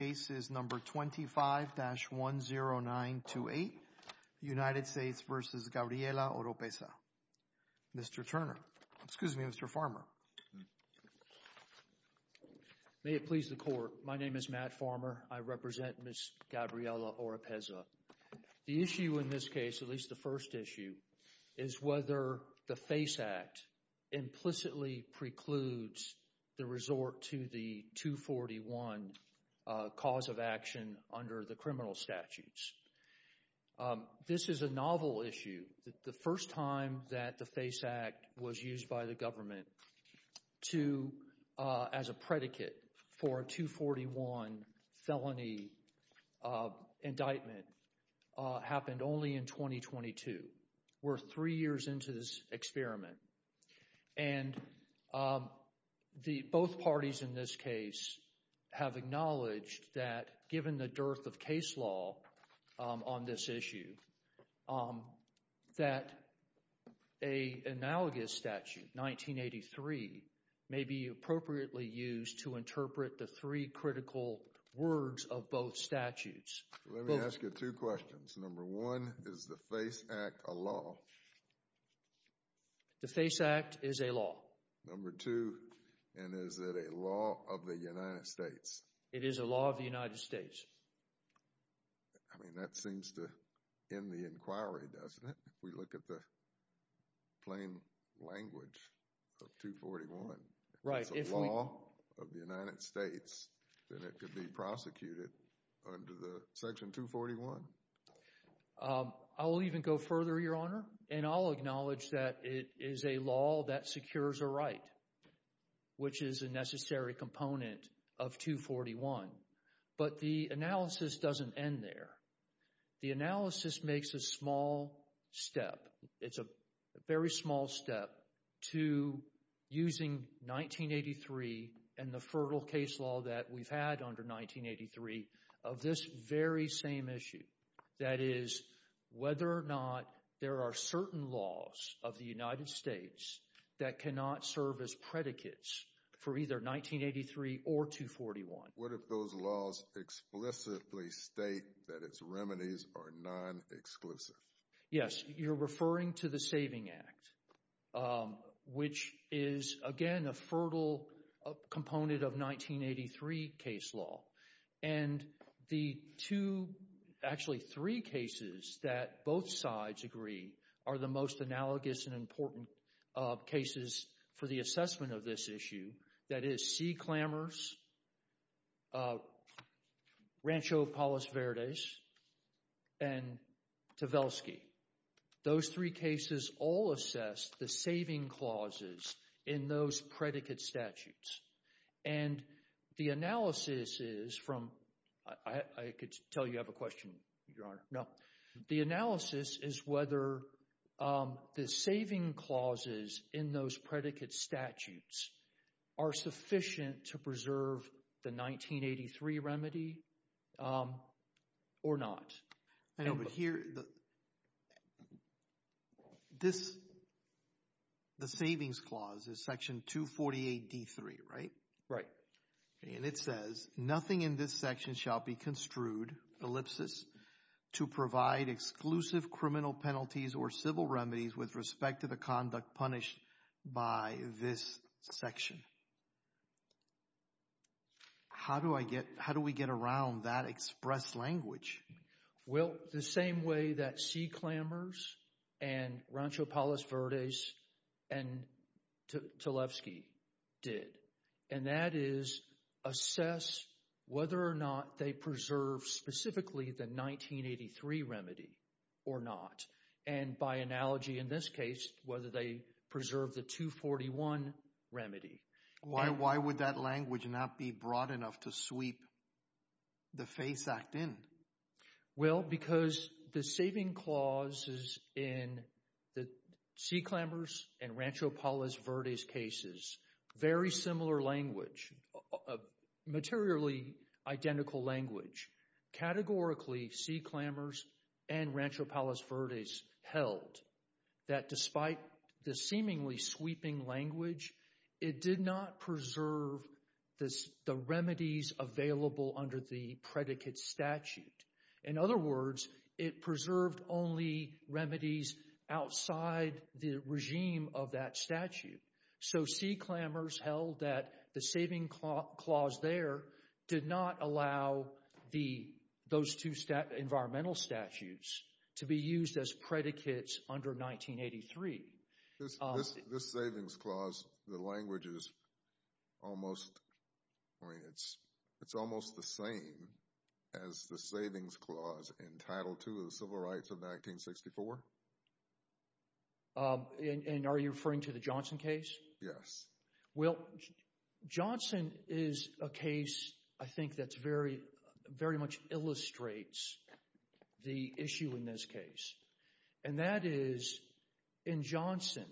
case is number 25-10928 United States v. Gabriella Oropesa. Mr. Turner, excuse me, Mr. Farmer. May it please the court, my name is Matt Farmer, I represent Ms. Gabriella Oropesa. The issue in this case, at least the first issue, is whether the FACE Act implicitly precludes the resort to the 241 cause of action under the criminal statutes. This is a novel issue. The first time that the FACE Act was used by the government as a predicate for a 241 felony indictment happened only in 2022. We're three years into this experiment. And both parties in this case have acknowledged that, given the dearth of case law on this issue, that an analogous statute, 1983, may be appropriately used to interpret the three critical words of both statutes. Let me ask you two questions. Number one, is the FACE Act a law? The FACE Act is a law. Number two, and is it a law of the United States? It is a law of the United States. I mean, that seems to end the inquiry, doesn't it? We look at the plain language of 241. If it's a law of the United States, then it could be prosecuted under the Section 241. I will even go further, Your Honor, and I'll acknowledge that it is a law that secures a right, which is a necessary component of 241. But the analysis doesn't end there. The analysis makes a small step. It's a very small step to using 1983 and the fertile case law that we've had under 1983 of this very same issue, that is, whether or not there are certain laws of the United States that cannot serve as predicates for either 1983 or 241. What if those laws explicitly state that its remedies are non-exclusive? Yes, you're referring to the SAVING Act, which is, again, a fertile component of 1983 case law. And the two, actually three cases that both sides agree are the most analogous and important cases for the assessment of this issue. That is, C. Clammers, Rancho Palos Verdes, and Tvelsky. Those three cases all assess the saving clauses in those predicate statutes. And the analysis is from—I could tell you have a question, Your Honor. No. The analysis is whether the saving clauses in those predicate statutes are sufficient to preserve the 1983 remedy or not. I know, but here—this—the savings clause is Section 248d3, right? Right. And it says, nothing in this section shall be construed, ellipsis, to provide exclusive criminal penalties or civil remedies with respect to the conduct punished by this section. How do I get—how do we get around that expressed language? Well, the same way that C. Clammers and Rancho Palos Verdes and Tvelsky did. And that is assess whether or not they preserve specifically the 1983 remedy or not. And by analogy in this case, whether they preserve the 241 remedy. Why would that language not be broad enough to sweep the FASE Act in? Well, because the saving clauses in the C. Clammers and Rancho Palos Verdes cases, very similar language, materially identical language. Categorically, C. Clammers and Rancho Palos Verdes held that despite the seemingly sweeping language, it did not preserve the remedies available under the predicate statute. In other words, it preserved only remedies outside the regime of that statute. So, C. Clammers held that the saving clause there did not allow those two environmental statutes to be used as predicates under 1983. This savings clause, the language is almost—I mean, it's almost the same as the savings clause in Title II of the Civil Rights of 1964? And are you referring to the Johnson case? Yes. Well, Johnson is a case I think that very much illustrates the issue in this case. And that is, in Johnson,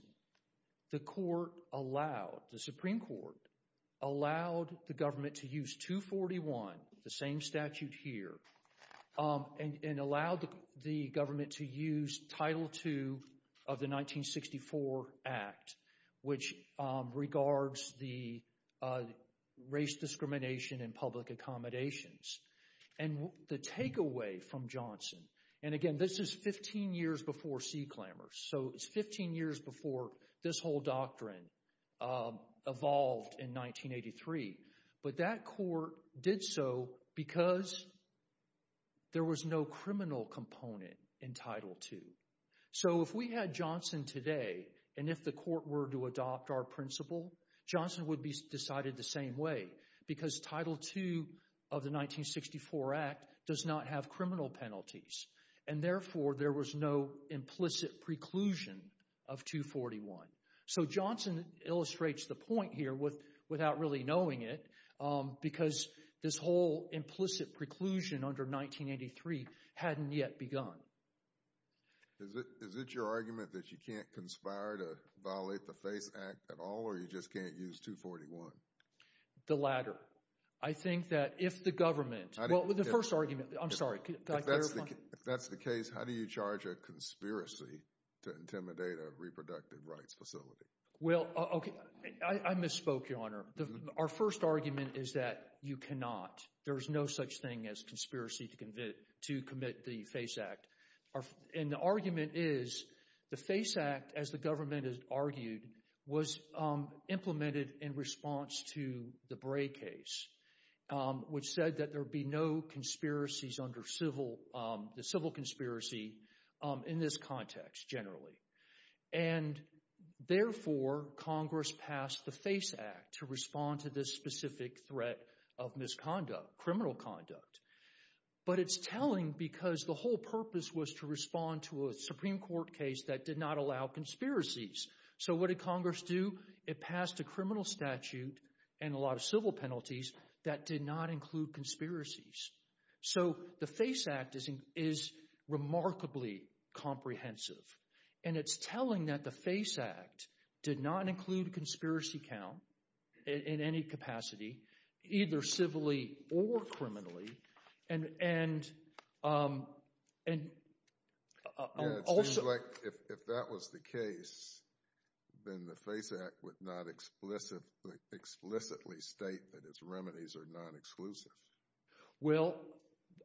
the Supreme Court allowed the government to use 241, the same statute here, and allowed the government to use Title II of the 1964 Act, which regards the race discrimination in public accommodations. And the takeaway from Johnson—and again, this is 15 years before C. Clammers, so it's 15 years before this whole doctrine evolved in 1983—but that court did so because there was no criminal component in Title II. So, if we had Johnson today and if the court were to adopt our principle, Johnson would be decided the same way because Title II of the 1964 Act does not have criminal penalties. And therefore, there was no implicit preclusion of 241. So, Johnson illustrates the point here without really knowing it because this whole implicit preclusion under 1983 hadn't yet begun. Is it your argument that you can't conspire to violate the FACE Act at all or you just can't use 241? The latter. I think that if the government—well, the first argument—I'm sorry. If that's the case, how do you charge a conspiracy to intimidate a reproductive rights facility? Well, okay. I misspoke, Your Honor. Our first argument is that you cannot. There is no such thing as conspiracy to commit the FACE Act. And the argument is the FACE Act, as the government has argued, was implemented in response to the Bray case, which said that there would be no conspiracies under the civil conspiracy in this context generally. And therefore, Congress passed the FACE Act to respond to this specific threat of misconduct, criminal conduct. But it's telling because the whole purpose was to respond to a Supreme Court case that did not allow conspiracies. So, what did Congress do? It passed a criminal statute and a lot of civil penalties that did not include conspiracies. So, the FACE Act is remarkably comprehensive. And it's telling that the FACE Act did not include conspiracy count in any capacity, either civilly or criminally, and also— If that was the case, then the FACE Act would not explicitly state that its remedies are non-exclusive. Well,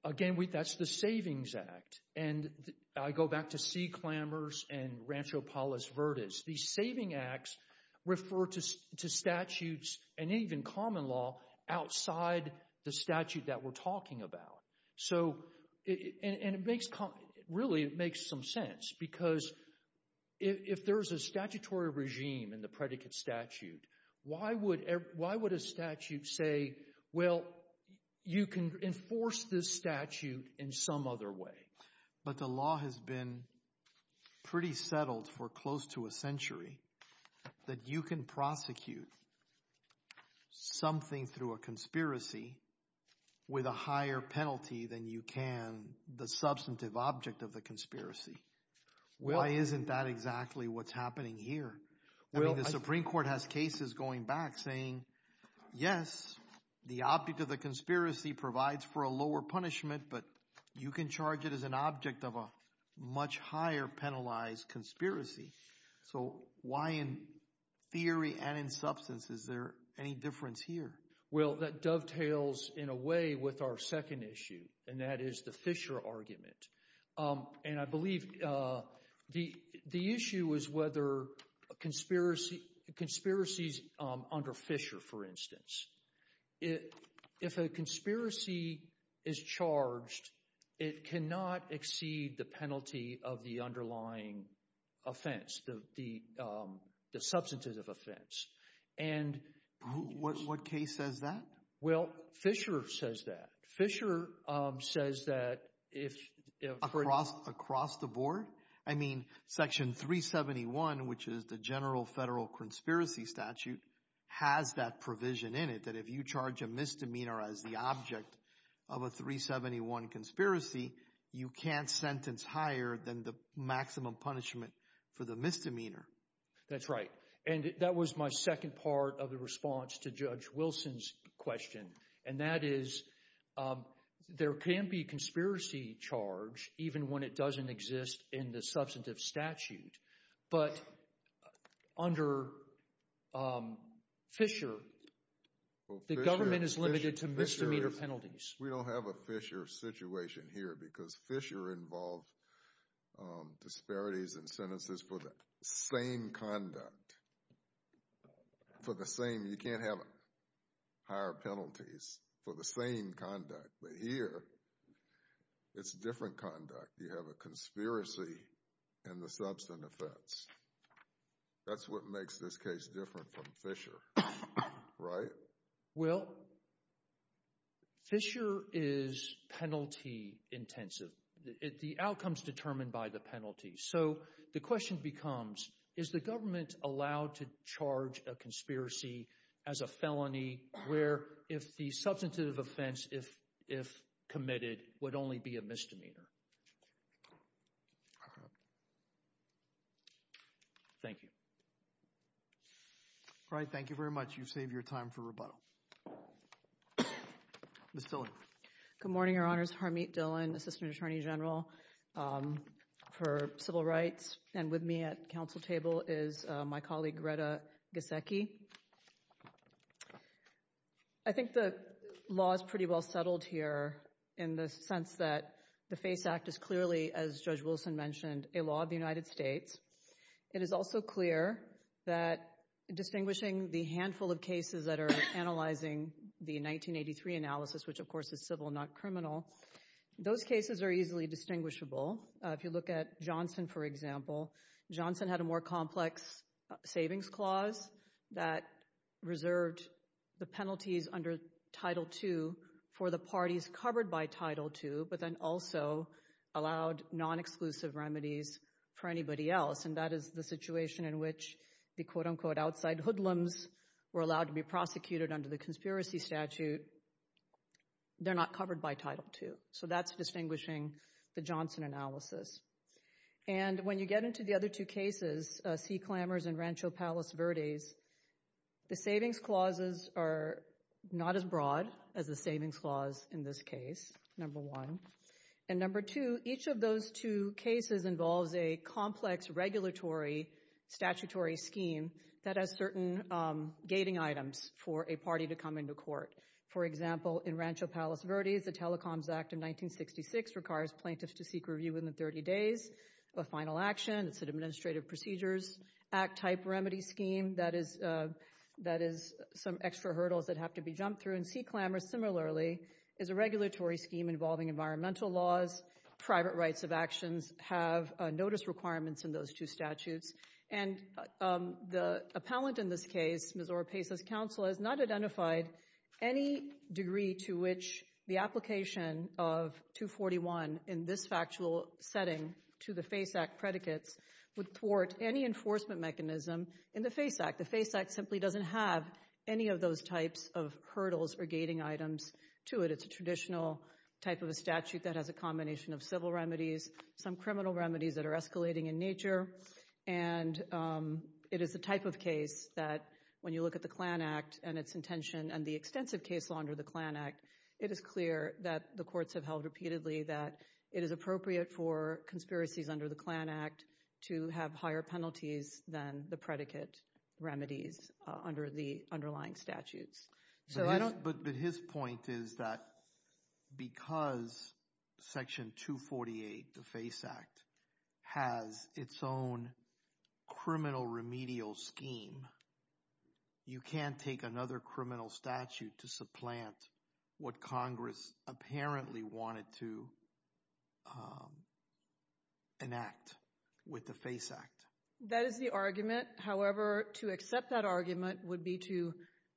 again, that's the Savings Act. And I go back to C. Clammers and Rancho Palos Verdes. These saving acts refer to statutes and even common law outside the statute that we're talking about. So—and it makes—really, it makes some sense because if there is a statutory regime in the predicate statute, why would a statute say, well, you can enforce this statute in some other way? But the law has been pretty settled for close to a century that you can prosecute something through a conspiracy with a higher penalty than you can the substantive object of the conspiracy. Why isn't that exactly what's happening here? I mean the Supreme Court has cases going back saying, yes, the object of the conspiracy provides for a lower punishment, but you can charge it as an object of a much higher penalized conspiracy. So, why in theory and in substance is there any difference here? Well, that dovetails in a way with our second issue, and that is the Fisher argument. And I believe the issue is whether a conspiracy—conspiracies under Fisher, for instance—if a conspiracy is charged, it cannot exceed the penalty of the underlying offense, the substantive offense. And— What case says that? Well, Fisher says that. Fisher says that if— Across the board? I mean, Section 371, which is the general federal conspiracy statute, has that provision in it that if you charge a misdemeanor as the object of a 371 conspiracy, you can't sentence higher than the maximum punishment for the misdemeanor. That's right. And that was my second part of the response to Judge Wilson's question, and that is there can be a conspiracy charge even when it doesn't exist in the substantive statute. But under Fisher, the government is limited to misdemeanor penalties. We don't have a Fisher situation here because Fisher involved disparities in sentences for the same conduct, for the same—you can't have higher penalties for the same conduct. But here, it's different conduct. You have a conspiracy in the substantive offense. That's what makes this case different from Fisher, right? Well, Fisher is penalty-intensive. The outcome is determined by the penalty. So the question becomes, is the government allowed to charge a conspiracy as a felony where if the substantive offense, if committed, would only be a misdemeanor? Thank you. All right. Thank you very much. You've saved your time for rebuttal. Ms. Tilley. Good morning, Your Honors. Harmeet Dhillon, Assistant Attorney General for Civil Rights. And with me at the council table is my colleague Greta Giesecke. I think the law is pretty well settled here in the sense that the FACE Act is clearly, as Judge Wilson mentioned, a law of the United States. It is also clear that distinguishing the handful of cases that are analyzing the 1983 analysis, which of course is civil, not criminal, those cases are easily distinguishable. If you look at Johnson, for example, Johnson had a more complex savings clause that reserved the penalties under Title II for the parties covered by Title II, but then also allowed non-exclusive remedies for anybody else. And that is the situation in which the quote-unquote outside hoodlums were allowed to be prosecuted under the conspiracy statute. They're not covered by Title II. So that's distinguishing the Johnson analysis. And when you get into the other two cases, Sea Clambers and Rancho Palos Verdes, the savings clauses are not as broad as the savings clause in this case, number one. And number two, each of those two cases involves a complex regulatory statutory scheme that has certain gating items for a party to come into court. For example, in Rancho Palos Verdes, the Telecoms Act of 1966 requires plaintiffs to seek review within 30 days of a final action. It's an Administrative Procedures Act-type remedy scheme. That is some extra hurdles that have to be jumped through. And Sea Clambers, similarly, is a regulatory scheme involving environmental laws. Private rights of actions have notice requirements in those two statutes. And the appellant in this case, Ms. Ora Pace's counsel, has not identified any degree to which the application of 241 in this factual setting to the FACE Act predicates would thwart any enforcement mechanism in the FACE Act. The FACE Act simply doesn't have any of those types of hurdles or gating items to it. It's a traditional type of a statute that has a combination of civil remedies, some criminal remedies that are escalating in nature. And it is the type of case that when you look at the CLAN Act and its intention and the extensive case law under the CLAN Act, it is clear that the courts have held repeatedly that it is appropriate for conspiracies under the CLAN Act to have higher penalties than the predicate remedies under the underlying statutes. But his point is that because Section 248, the FACE Act, has its own criminal remedial scheme, you can't take another criminal statute to supplant what Congress apparently wanted to enact with the FACE Act. That is the argument. However, to accept that argument would be to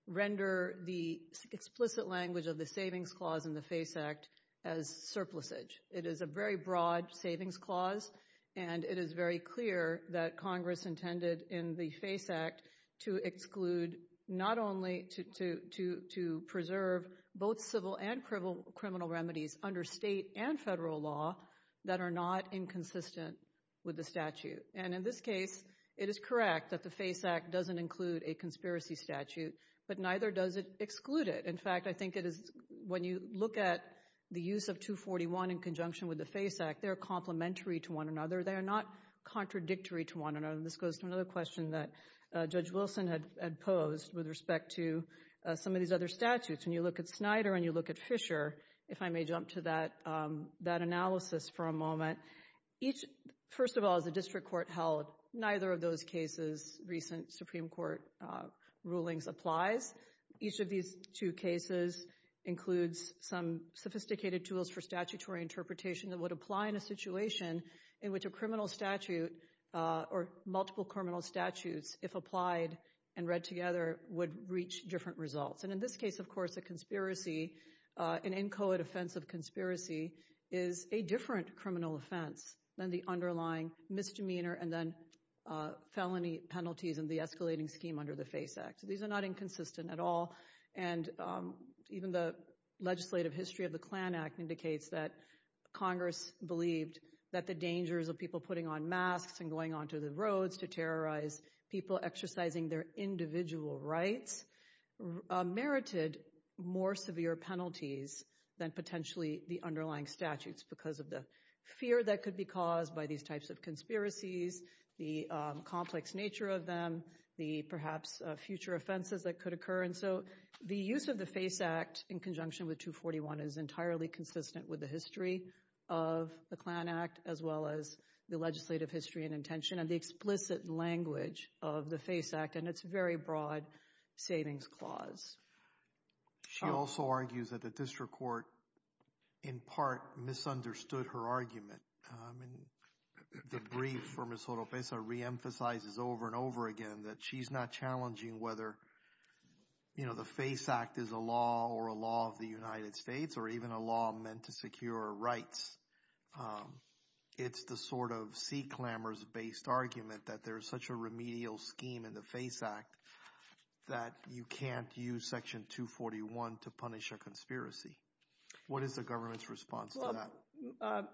render the explicit language of the savings clause in the FACE Act as surplusage. It is a very broad savings clause, and it is very clear that Congress intended in the FACE Act to exclude not only to preserve both civil and criminal remedies under state and federal law that are not inconsistent with the statute. And in this case, it is correct that the FACE Act doesn't include a conspiracy statute, but neither does it exclude it. In fact, I think it is when you look at the use of 241 in conjunction with the FACE Act, they are complementary to one another. They are not contradictory to one another. This goes to another question that Judge Wilson had posed with respect to some of these other statutes. When you look at Snyder and you look at Fisher, if I may jump to that analysis for a moment, first of all, as a district court held, neither of those cases, recent Supreme Court rulings, applies. Each of these two cases includes some sophisticated tools for statutory interpretation that would apply in a situation in which a criminal statute or multiple criminal statutes, if applied and read together, would reach different results. And in this case, of course, a conspiracy, an inchoate offense of conspiracy is a different criminal offense than the underlying misdemeanor and then felony penalties and the escalating scheme under the FACE Act. These are not inconsistent at all. And even the legislative history of the Klan Act indicates that Congress believed that the dangers of people putting on masks and going onto the roads to terrorize people exercising their individual rights merited more severe penalties than potentially the underlying statutes because of the fear that could be caused by these types of conspiracies, the complex nature of them, the perhaps future offenses that could occur. And so the use of the FACE Act in conjunction with 241 is entirely consistent with the history of the Klan Act, as well as the legislative history and intention and the explicit language of the FACE Act and its very broad savings clause. She also argues that the district court in part misunderstood her argument. And the brief for Ms. Oropesa reemphasizes over and over again that she's not challenging whether, you know, the FACE Act is a law or a law of the United States or even a law meant to secure rights. It's the sort of sea clamors based argument that there is such a remedial scheme in the FACE Act that you can't use Section 241 to punish a conspiracy. What is the government's response to that?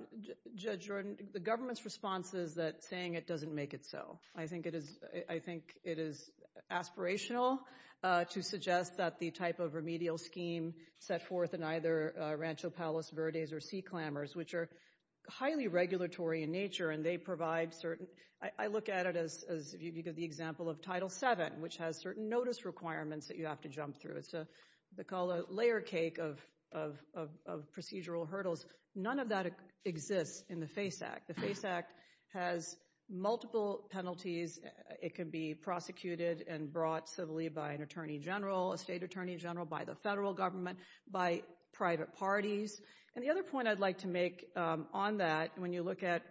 Judge Jordan, the government's response is that saying it doesn't make it so. I think it is aspirational to suggest that the type of remedial scheme set forth in either Rancho Palos Verdes or sea clamors, which are highly regulatory in nature and they provide certain—I look at it as the example of Title VII, which has certain notice requirements that you have to jump through. It's called a layer cake of procedural hurdles. None of that exists in the FACE Act. The FACE Act has multiple penalties. It can be prosecuted and brought civilly by an attorney general, a state attorney general, by the federal government, by private parties. And the other point I'd like to make on that when you look at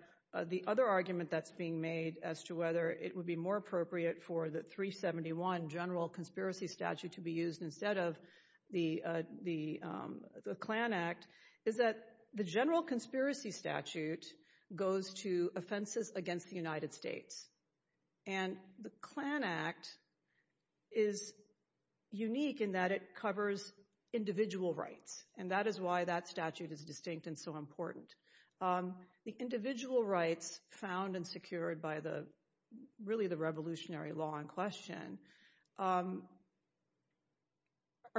the other argument that's being made as to whether it would be more appropriate for the 371 General Conspiracy Statute to be used instead of the CLAN Act is that the General Conspiracy Statute goes to offenses against the United States. And the CLAN Act is unique in that it covers individual rights, and that is why that statute is distinct and so important. The individual rights found and secured by really the revolutionary law in question are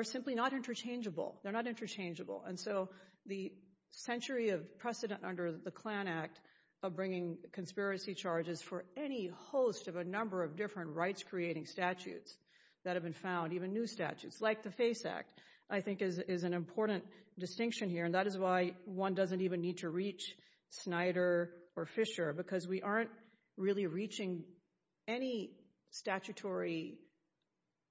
simply not interchangeable. They're not interchangeable. And so the century of precedent under the CLAN Act of bringing conspiracy charges for any host of a number of different rights-creating statutes that have been found, even new statutes like the FACE Act, I think is an important distinction here. And that is why one doesn't even need to reach Snyder or Fisher because we aren't really reaching any statutory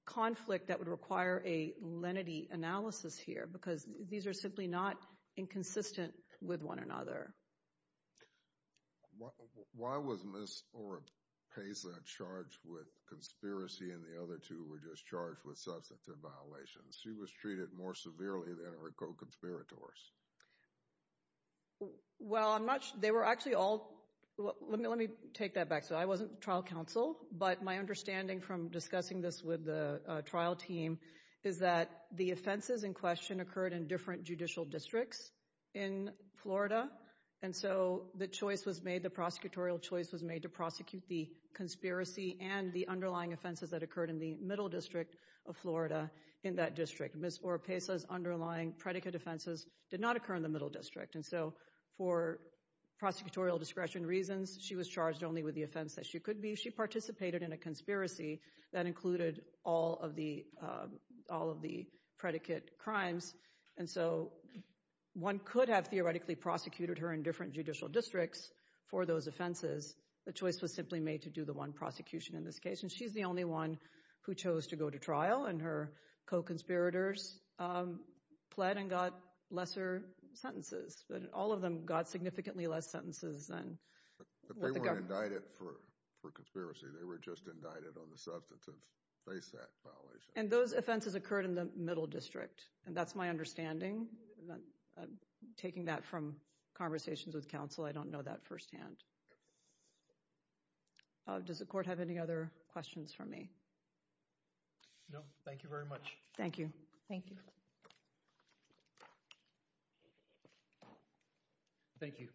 conflict that would require a lenity analysis here because these are simply not inconsistent with one another. Why was Ms. Oropesa charged with conspiracy and the other two were just charged with substantive violations? She was treated more severely than her co-conspirators. Well, they were actually all—let me take that back. So I wasn't trial counsel, but my understanding from discussing this with the trial team is that the offenses in question occurred in different judicial districts in Florida. And so the choice was made, the prosecutorial choice was made to prosecute the conspiracy and the underlying offenses that occurred in the middle district of Florida in that district. Ms. Oropesa's underlying predicate offenses did not occur in the middle district. And so for prosecutorial discretion reasons, she was charged only with the offense that she could be. She participated in a conspiracy that included all of the predicate crimes. And so one could have theoretically prosecuted her in different judicial districts for those offenses. The choice was simply made to do the one prosecution in this case. And she's the only one who chose to go to trial, and her co-conspirators pled and got lesser sentences. But all of them got significantly less sentences than— But they weren't indicted for conspiracy. They were just indicted on the substantive FASE Act violation. And those offenses occurred in the middle district. And that's my understanding. I'm taking that from conversations with counsel. I don't know that firsthand. Does the court have any other questions for me? No, thank you very much. Thank you. Thank you. Thank you.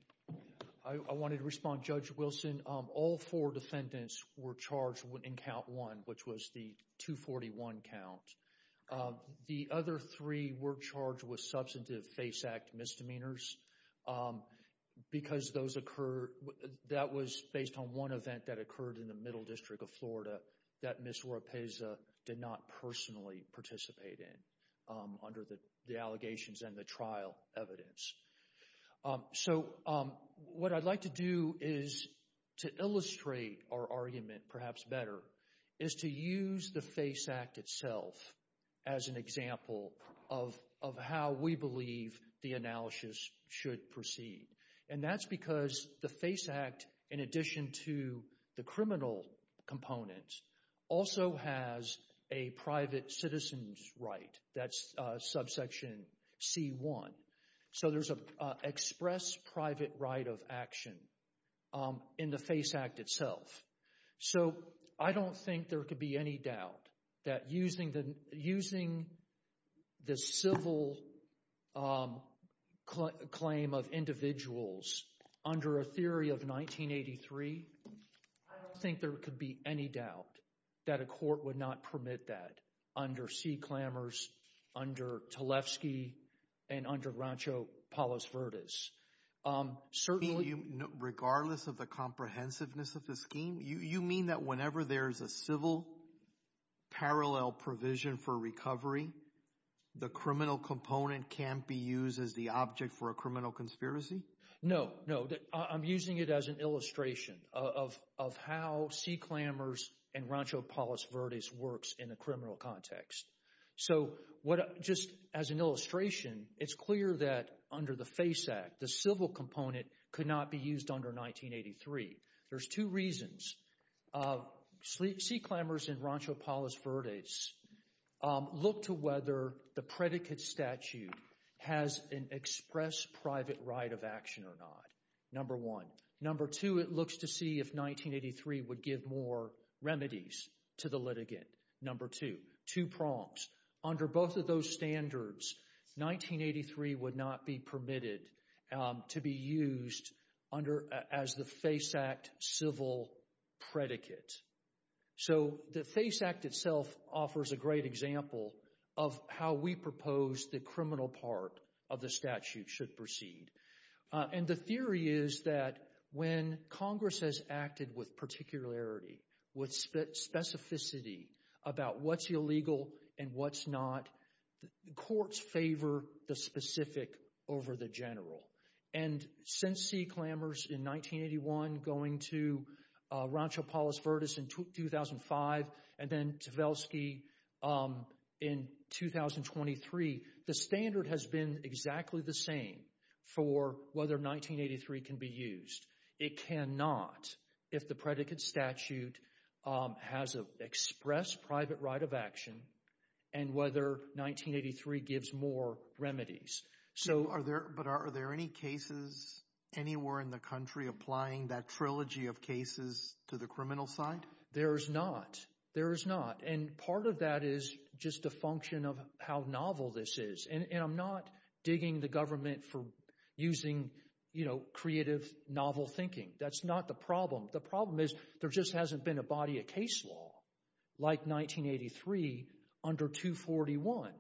I wanted to respond. Judge Wilson, all four defendants were charged in count one, which was the 241 count. The other three were charged with substantive FASE Act misdemeanors. Because those occurred—that was based on one event that occurred in the middle district of Florida that Ms. Rapesa did not personally participate in under the allegations and the trial evidence. So what I'd like to do is to illustrate our argument, perhaps better, is to use the FASE Act itself as an example of how we believe the analysis should proceed. And that's because the FASE Act, in addition to the criminal components, also has a private citizen's right. That's subsection C1. So there's an express private right of action in the FASE Act itself. So I don't think there could be any doubt that using the civil claim of individuals under a theory of 1983, I don't think there could be any doubt that a court would not permit that under C. Clammers, under Talefsky, and under Rancho Palos Verdes. Regardless of the comprehensiveness of the scheme, you mean that whenever there's a civil parallel provision for recovery, the criminal component can't be used as the object for a criminal conspiracy? No, no. I'm using it as an illustration of how C. Clammers and Rancho Palos Verdes works in a criminal context. So just as an illustration, it's clear that under the FASE Act, the civil component could not be used under 1983. There's two reasons. C. Clammers and Rancho Palos Verdes look to whether the predicate statute has an express private right of action or not. Number one. Number two, it looks to see if 1983 would give more remedies to the litigant. Number two. Two prompts. Under both of those standards, 1983 would not be permitted to be used as the FASE Act civil predicate. So the FASE Act itself offers a great example of how we propose the criminal part of the statute should proceed. And the theory is that when Congress has acted with particularity, with specificity about what's illegal and what's not, the courts favor the specific over the general. And since C. Clammers in 1981 going to Rancho Palos Verdes in 2005 and then Tvelsky in 2023, the standard has been exactly the same for whether 1983 can be used. It cannot if the predicate statute has an express private right of action and whether 1983 gives more remedies. But are there any cases anywhere in the country applying that trilogy of cases to the criminal side? There is not. There is not. And part of that is just a function of how novel this is. And I'm not digging the government for using, you know, creative novel thinking. That's not the problem. The problem is there just hasn't been a body of case law like 1983 under 241.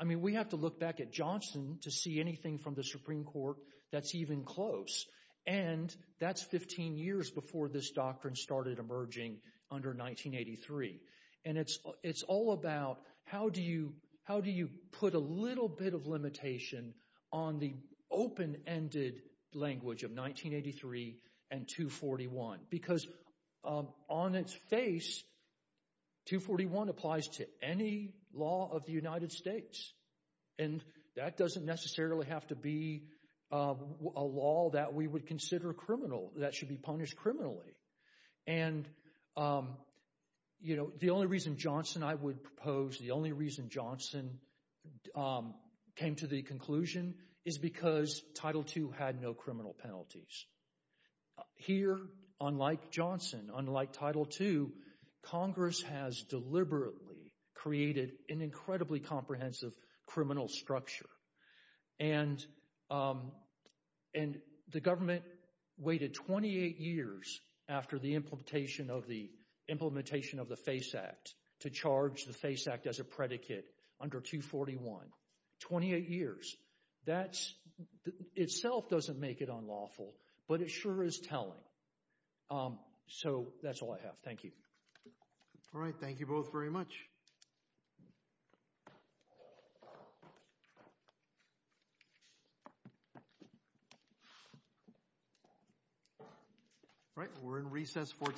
I mean, we have to look back at Johnson to see anything from the Supreme Court that's even close. And that's 15 years before this doctrine started emerging under 1983. And it's all about how do you put a little bit of limitation on the open-ended language of 1983 and 241? Because on its face, 241 applies to any law of the United States. And that doesn't necessarily have to be a law that we would consider criminal, that should be punished criminally. And, you know, the only reason Johnson I would propose, the only reason Johnson came to the conclusion, is because Title II had no criminal penalties. Here, unlike Johnson, unlike Title II, Congress has deliberately created an incredibly comprehensive criminal structure. And the government waited 28 years after the implementation of the FACE Act to charge the FACE Act as a predicate under 241. 28 years. That itself doesn't make it unlawful, but it sure is telling. So that's all I have. Thank you. All right. Thank you both very much. All right. We're in recess for today.